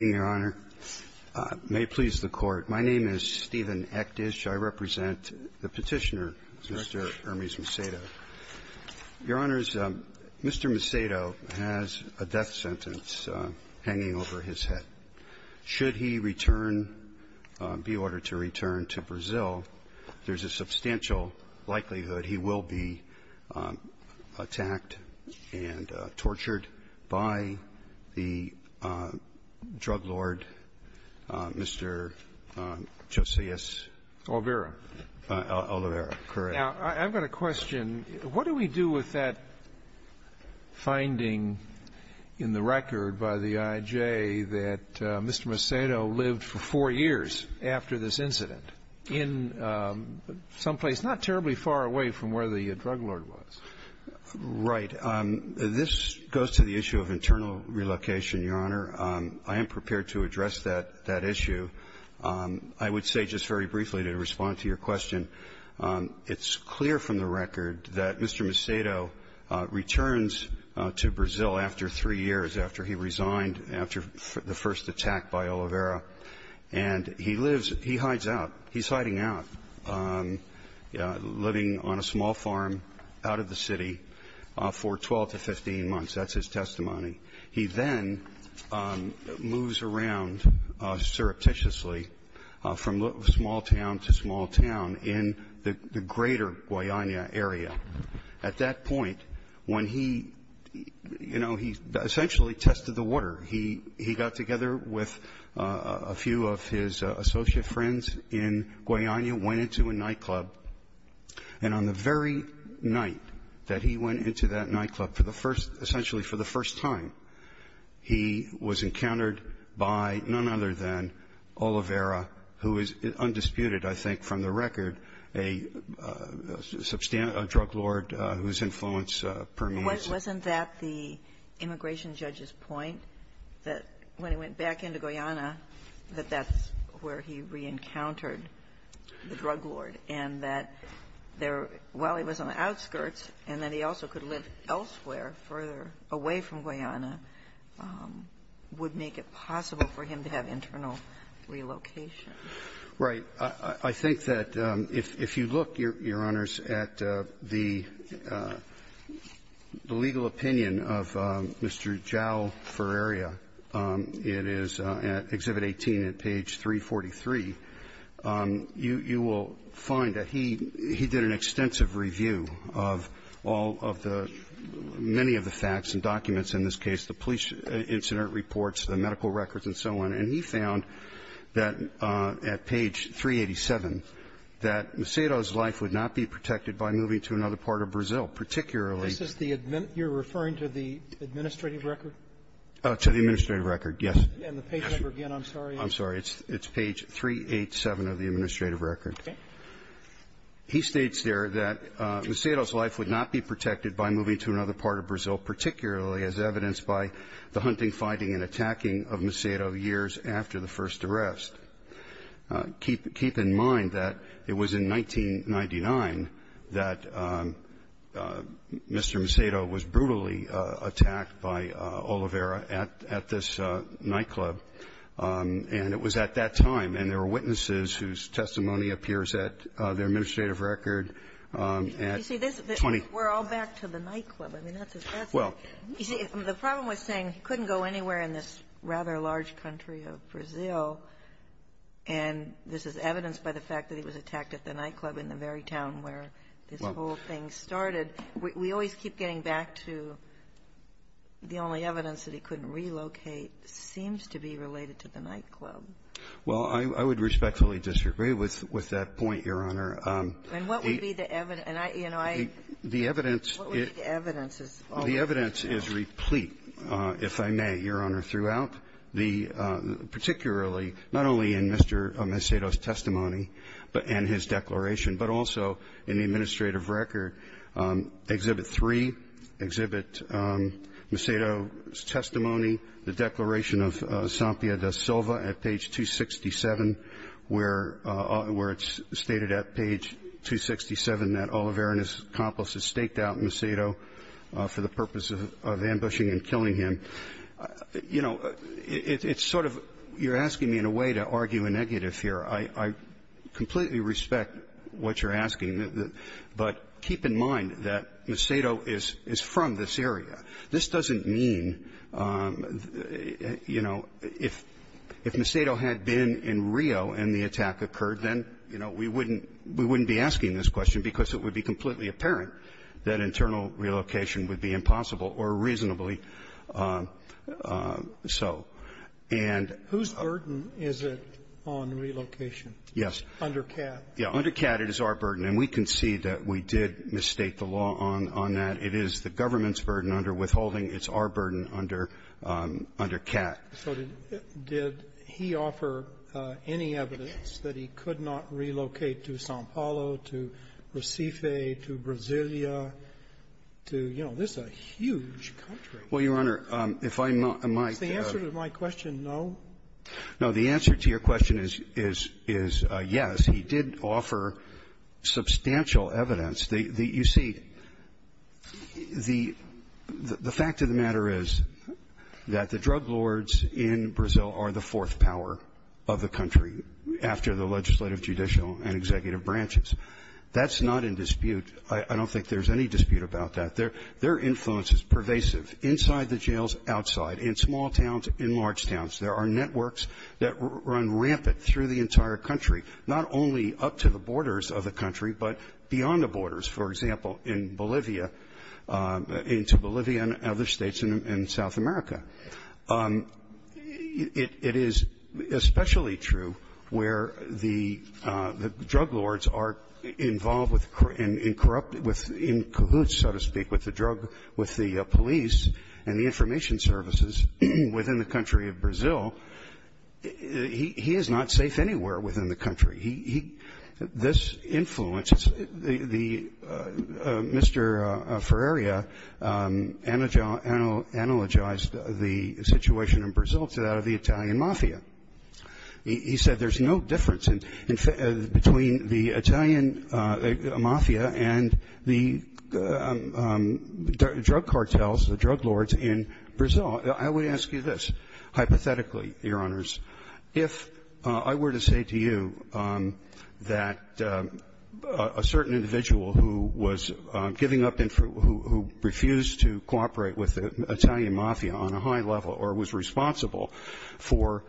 May it please the Court, my name is Stephen Ektish. I represent the Petitioner, Mr. Ermes Macedo. Your Honors, Mr. Macedo has a death sentence hanging over his head. Should he return, be ordered to return to Brazil, there's a substantial likelihood he will be released. I have a question. What do we do with that finding in the record by the IJ that Mr. Macedo lived for four years after this incident in someplace not terribly far away from where the drug lord was? Right. This goes to the issue of internal relocation, Your Honor. I am prepared to address that issue. I would say just very briefly to respond to your question, it's clear from the record that Mr. Macedo returns to Brazil after three years, after he resigned, after the first attack by Oliveira, and he lives he hides out. He's hiding out, living on a small farm out of the city. For 12 to 15 months, that's his testimony. He then moves around surreptitiously from small town to small town in the greater Guayana area. At that point, when he, you know, he essentially tested the water. He got together with a few of his associate friends in Guayana, went into a night that he went into that nightclub for the first, essentially for the first time. He was encountered by none other than Oliveira, who is undisputed, I think, from the record, a drug lord whose influence permeates the region. Wasn't that the immigration judge's point, that when he went back into Guayana, that that's where he reencountered the drug lord, and that there, while he was on the outskirts, and that he also could live elsewhere, further away from Guayana, would make it possible for him to have internal relocation? Right. I think that if you look, Your Honors, at the legal opinion of Mr. Jao Ferreira, it is at Exhibit 18 at page 343, you will find that he did an extensive review of all of the many of the facts and documents in this case, the police incident reports, the medical records, and so on. And he found that at page 387, that Macedo's life would not be protected by moving to another part of Brazil, particularly the administrative record. To the administrative record, yes. And the page number again, I'm sorry. I'm sorry. It's page 387 of the administrative record. Okay. He states there that Macedo's life would not be protected by moving to another part of Brazil, particularly as evidenced by the hunting, fighting, and attacking of Macedo years after the first arrest. Keep in mind that it was in 1999 that Mr. Ferreira was arrested in Bolivar at this nightclub, and it was at that time. And there were witnesses whose testimony appears at the administrative record at 20 ---- You see, this we're all back to the nightclub. I mean, that's as fast as you can. Well, you see, the problem was saying he couldn't go anywhere in this rather large country of Brazil, and this is evidenced by the fact that he was attacked at the nightclub in the very town where this whole thing started. We always keep getting back to the only evidence that he couldn't relocate seems to be related to the nightclub. Well, I would respectfully disagree with that point, Your Honor. And what would be the evidence? And I, you know, I ---- The evidence is ---- What would be the evidence? The evidence is replete, if I may, Your Honor, throughout the ---- particularly not only in Mr. Macedo's testimony and his declaration, but also in the administrative record, Exhibit 3, Exhibit Macedo's testimony, the declaration of Sampia da Silva at page 267, where it's stated at page 267 that Oliveira and his accomplices staked out Macedo for the purpose of ambushing and killing him. You know, it's sort of you're asking me in a way to argue a negative here. I completely respect what you're asking. But keep in mind that Macedo is from this area. This doesn't mean, you know, if Macedo had been in Rio and the attack occurred, then, you know, we wouldn't be asking this question because it would be completely apparent that internal relocation would be impossible or reasonably so. And ---- Whose burden is it on relocation? Yes. Under CAT. Yeah. Under CAT, it is our burden. And we concede that we did misstate the law on that. It is the government's burden under withholding. It's our burden under CAT. So did he offer any evidence that he could not relocate to Sao Paulo, to Recife, to Brasilia, to, you know, this is a huge country. Well, Your Honor, if I might ---- Is the answer to my question no? No. The answer to your question is yes. He did offer substantial evidence. The ---- you see, the fact of the matter is that the drug lords in Brazil are the fourth power of the country after the legislative, judicial, and executive branches. That's not in dispute. I don't think there's any dispute about that. Their influence is pervasive inside the jails, outside, in small towns, in large towns. There are networks that run rampant through the entire country, not only up to the borders of the country, but beyond the borders, for example, in Bolivia, into Bolivia and other states in South America. It is especially true where the drug lords are involved with corrupt ---- in cahoots, so to speak, with the drug ---- with the police and the information services within the country of Brazil. He is not safe anywhere within the country. He ---- this influence, the ---- Mr. Ferreria analogized the situation in Brazil to that of the Italian mafia. He said there's no difference in ---- between the Italian mafia and the drug cartels, the drug lords in Brazil. I would ask you this. Hypothetically, Your Honors, if I were to say to you that a certain individual who was giving up ---- who refused to cooperate with the Italian mafia on a high level or was responsible for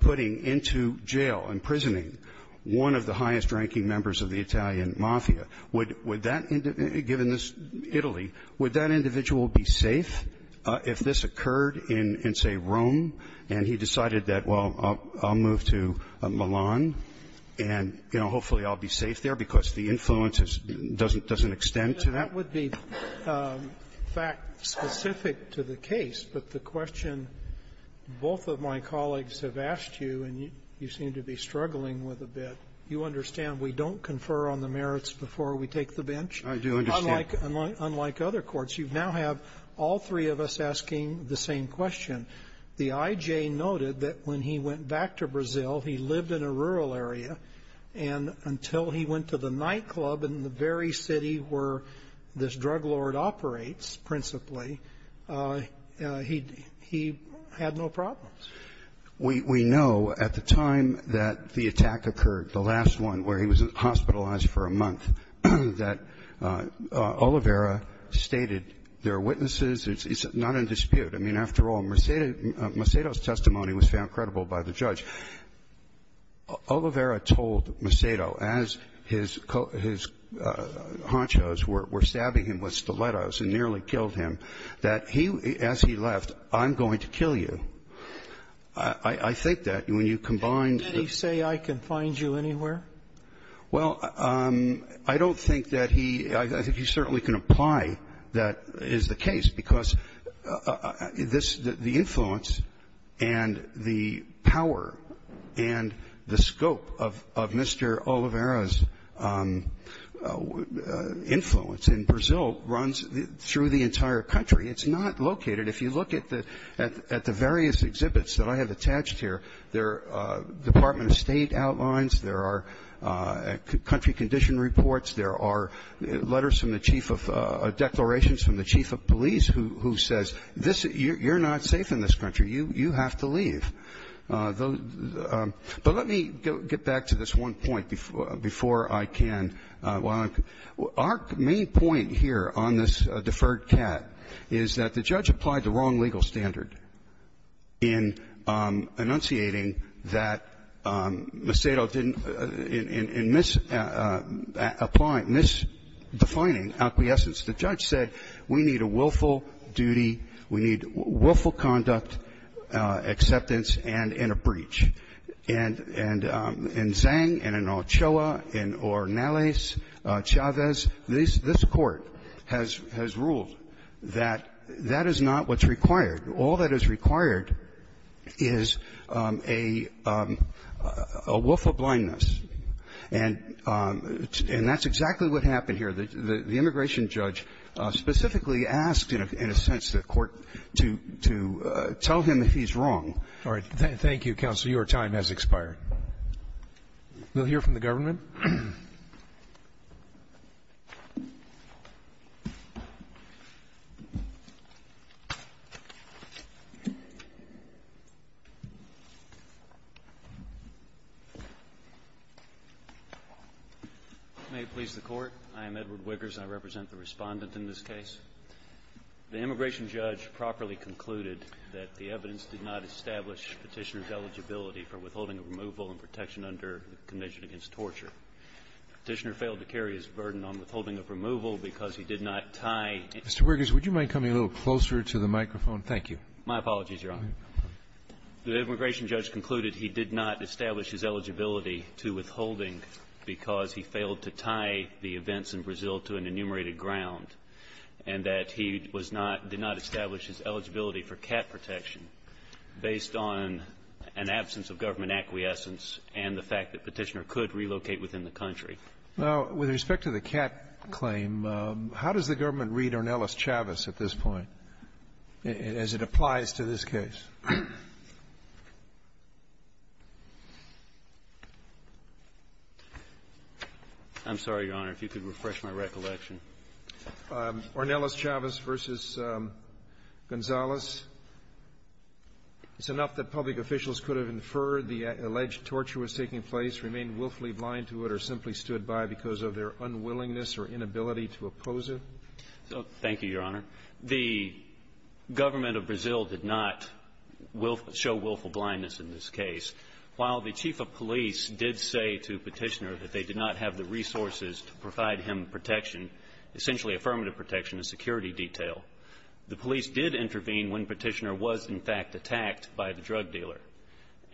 putting into jail, imprisoning, one of the highest ranking members of the Italian mafia, would that ---- given this Italy, would that be considered in, say, Rome, and he decided that, well, I'll move to Milan, and, you know, hopefully I'll be safe there because the influence doesn't extend to that? Roberts. That would be fact specific to the case, but the question both of my colleagues have asked you, and you seem to be struggling with a bit, you understand we don't confer on the merits before we take the bench? I do understand. Unlike other courts, you now have all three of us asking the same question. The I.J. noted that when he went back to Brazil, he lived in a rural area, and until he went to the nightclub in the very city where this drug lord operates principally, he had no problems. We know at the time that the attack occurred, the last one, where he was hospitalized for a month, that Oliveira stated there are witnesses. It's not in dispute. I mean, after all, Mercedo's testimony was found credible by the judge. Oliveira told Mercedo, as his honchos were stabbing him with stilettos and nearly killed him, that he, as he left, I'm going to kill you. I think that when you combine the ---- Did he say, I can find you anywhere? Well, I don't think that he ---- I think he certainly can apply that is the case, because this ---- the influence and the power and the scope of Mr. Oliveira's influence in Brazil runs through the entire country. It's not located. If you look at the various exhibits that I have attached here, there are Department of State outlines, there are country condition reports, there are letters from the chief of declarations from the chief of police who says, this ---- you're not safe in this country. You have to leave. But let me get back to this one point before I can. Our main point here on this deferred cat is that the judge applied the wrong legal standard in enunciating that Macedo didn't ---- in misapplying, misdefining acquiescence, the judge said, we need a willful duty, we need willful conduct, acceptance, and in a breach. And in Zhang, and in Ochoa, in Ornales, Chavez, this Court has ruled that that is not what's required. All that is required is a willful blindness. And that's exactly what happened here. The immigration judge specifically asked, in a sense, the Court to tell him that he's wrong. Roberts. Thank you, Counsel. Your time has expired. We'll hear from the government. May it please the Court, I am Edward Wiggers and I represent the Respondent in this case. The immigration judge properly concluded that the evidence did not establish petitioner's eligibility for withholding removal and protection under the conditions of torture. Petitioner failed to carry his burden on withholding of removal because he did not tie ---- Mr. Wiggers, would you mind coming a little closer to the microphone? Thank you. My apologies, Your Honor. The immigration judge concluded he did not establish his eligibility to withholding because he failed to tie the events in Brazil to an enumerated ground, and that he was not ---- did not establish his eligibility for cap protection based on an absence of government acquiescence and the fact that petitioner could relocate within the country. Now, with respect to the cap claim, how does the government read Ornelas-Chavez at this point, as it applies to this case? I'm sorry, Your Honor, if you could refresh my recollection. Ornelas-Chavez v. Gonzales, it's enough that public officials could have inferred the alleged torture was taking place, remained willfully blind to it, or simply stood by because of their unwillingness or inability to oppose it. Thank you, Your Honor. The government of Brazil did not willful ---- show willful blindness in this case. While the chief of police did say to Petitioner that they did not have the resources to provide him protection, essentially affirmative protection, a security detail, the police did intervene when Petitioner was, in fact, attacked by the drug dealer.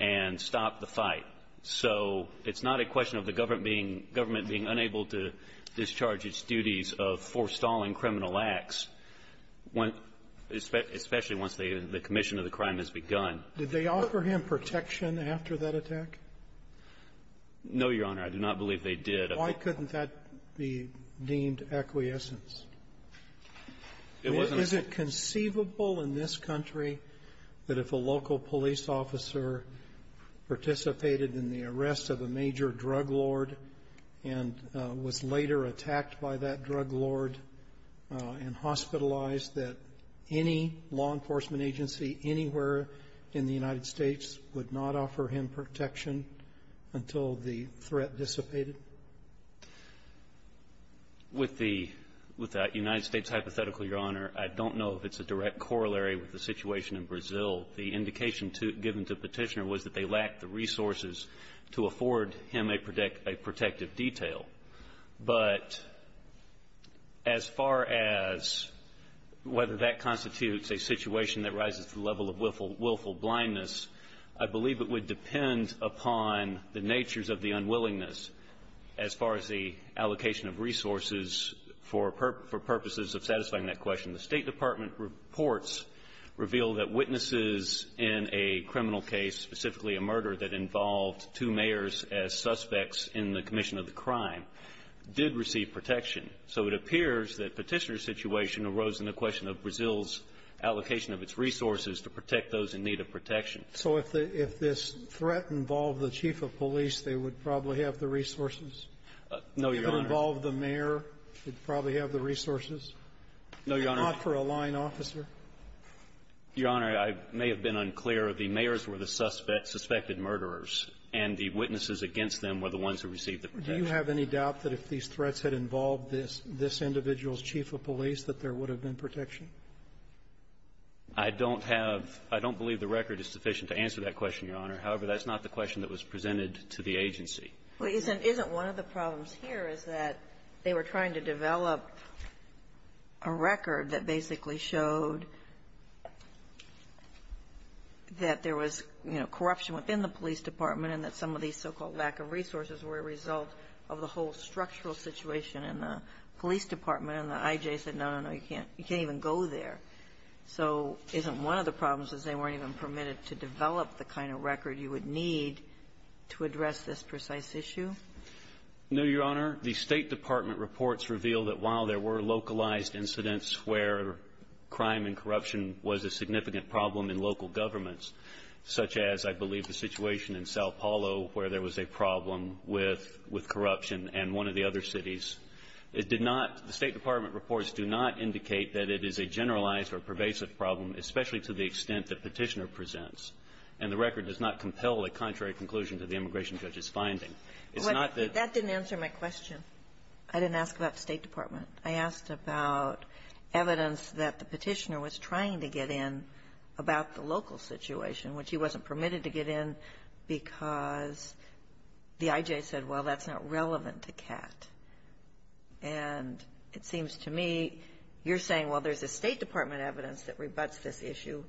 And stopped the fight. So it's not a question of the government being unable to discharge its duties of forestalling criminal acts, especially once the commission of the crime has begun. Did they offer him protection after that attack? No, Your Honor. I do not believe they did. Why couldn't that be deemed acquiescence? It wasn't ---- Is it conceivable in this country that if a local police officer participated in the arrest of a major drug lord and was later attacked by that drug lord and hospitalized, that any law enforcement agency anywhere in the United States would not offer him protection until the threat dissipated? With the United States hypothetical, Your Honor, I don't know if it's a direct corollary with the situation in Brazil. The indication given to Petitioner was that they lacked the resources to afford him a protective detail. But as far as whether that constitutes a situation that rises to the level of willful blindness, I believe it would depend upon the natures of the unwillingness as far as the allocation of resources for purposes of satisfying that question. The State Department reports reveal that witnesses in a criminal case, specifically a murder that involved two mayors as suspects in the commission of the crime, did receive protection. So it appears that Petitioner's situation arose in the question of Brazil's So if this threat involved the chief of police, they would probably have the resources? No, Your Honor. If it involved the mayor, they'd probably have the resources? No, Your Honor. Not for a line officer? Your Honor, I may have been unclear. The mayors were the suspected murderers, and the witnesses against them were the ones who received the protection. Do you have any doubt that if these threats had involved this individual's chief of police, that there would have been protection? I don't have – I don't believe the record is sufficient to answer that question, Your Honor. However, that's not the question that was presented to the agency. Isn't one of the problems here is that they were trying to develop a record that basically showed that there was, you know, corruption within the police department and that some of these so-called lack of resources were a result of the whole structural situation, and the police department and the I.J. said, no, no, no, you can't even go there. So isn't one of the problems is they weren't even permitted to develop the kind of record you would need to address this precise issue? No, Your Honor. The State Department reports reveal that while there were localized incidents where crime and corruption was a significant problem in local governments, such as I believe the situation in Sao Paulo where there was a problem with corruption in one of the other cities, it did not – the State Department reports do not indicate that it is a generalized or pervasive problem, especially to the extent that Petitioner presents, and the record does not compel a contrary conclusion to the immigration judge's finding. It's not that the – That didn't answer my question. I didn't ask about the State Department. I asked about evidence that the Petitioner was trying to get in about the local situation, which he wasn't permitted to get in because the IJ said, well, that's not relevant to CAT. And it seems to me you're saying, well, there's a State Department evidence that rebuts this issue.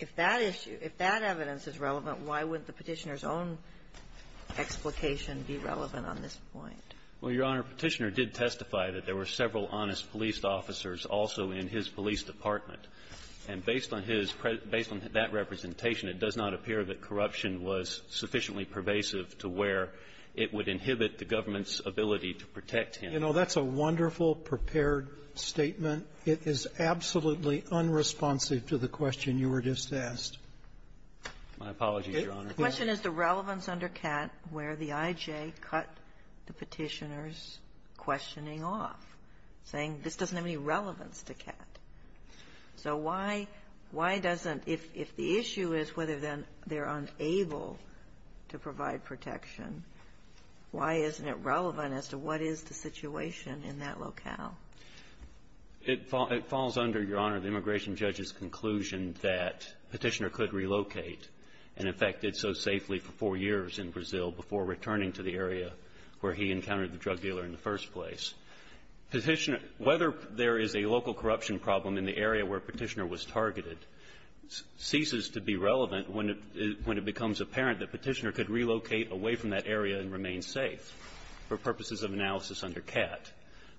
If that issue – if that evidence is relevant, why wouldn't the Petitioner's own explication be relevant on this point? Well, Your Honor, Petitioner did testify that there were several honest police officers also in his police department. And based on his – based on that representation, it does not appear that corruption was sufficiently pervasive to where it would inhibit the government's ability to protect him. You know, that's a wonderful, prepared statement. It is absolutely unresponsive to the question you were just asked. My apologies, Your Honor. The question is the relevance under CAT where the IJ cut the Petitioner's questioning off, saying this doesn't have any relevance to CAT. So why – why doesn't – if the issue is whether then they're unable to provide protection, why isn't it relevant as to what is the situation in that locale? It falls under, Your Honor, the immigration judge's conclusion that Petitioner could relocate and, in fact, did so safely for four years in Brazil before returning to the area where he encountered the drug dealer in the first place. Petitioner – whether there is a local corruption problem in the area where Petitioner was targeted ceases to be relevant when it – when it becomes apparent that Petitioner could relocate away from that area and remain safe for purposes of analysis under CAT.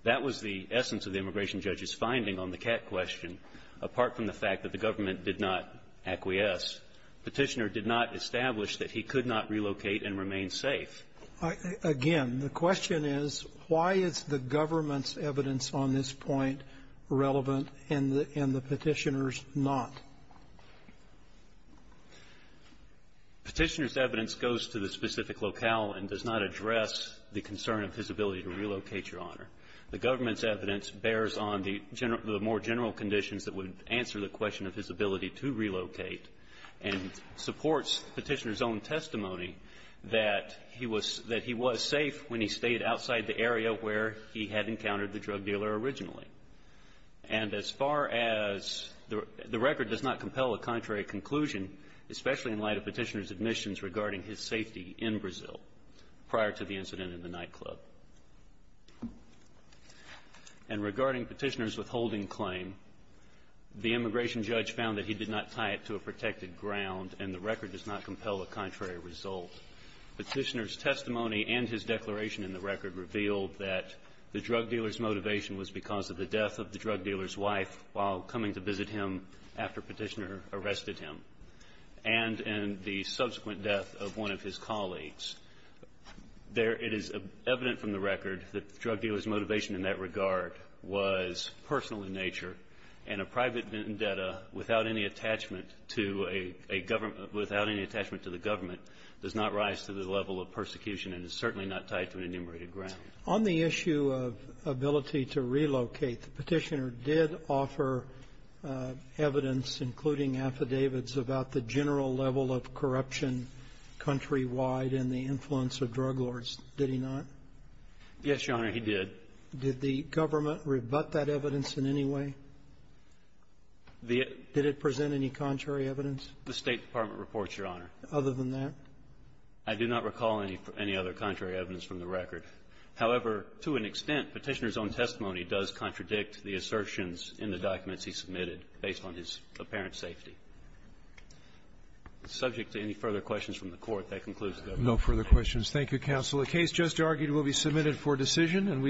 That was the essence of the immigration judge's finding on the CAT question. Apart from the fact that the government did not acquiesce, Petitioner did not establish that he could not relocate and remain safe. Again, the question is, why is the government's evidence on this point relevant and the Petitioner's not? Petitioner's evidence goes to the specific locale and does not address the concern of his ability to relocate, Your Honor. The government's evidence bears on the more general conditions that would answer the question of his ability to relocate and supports Petitioner's own testimony that he was – that he was safe when he stayed outside the area where he had encountered the drug dealer originally. And as far as – the record does not compel a contrary conclusion, especially in light of Petitioner's admissions regarding his safety in Brazil prior to the incident in the nightclub. And regarding Petitioner's withholding claim, the immigration judge found that he did not tie it to a protected ground and the record does not compel a contrary result. Petitioner's testimony and his declaration in the record revealed that the drug dealer's motivation was because of the death of the drug dealer's wife while coming to visit him after Petitioner arrested him and in the subsequent death of one of his colleagues. It is evident from the record that the drug dealer's motivation in that regard was personal in nature, and a private vendetta without any attachment to a government – without any attachment to the government does not rise to the level of persecution and is certainly not tied to an enumerated ground. On the issue of ability to relocate, Petitioner did offer evidence, including affidavits, about the general level of corruption countrywide and the influence of drug lords, did he not? Yes, Your Honor, he did. Did the government rebut that evidence in any way? The – Did it present any contrary evidence? The State Department reports, Your Honor. Other than that? I do not recall any other contrary evidence from the record. However, to an extent, Petitioner's own testimony does contradict the assertions in the documents he submitted based on his apparent safety. Subject to any further questions from the Court, that concludes the government. No further questions. Thank you, counsel. The case just argued will be submitted for decision. And we –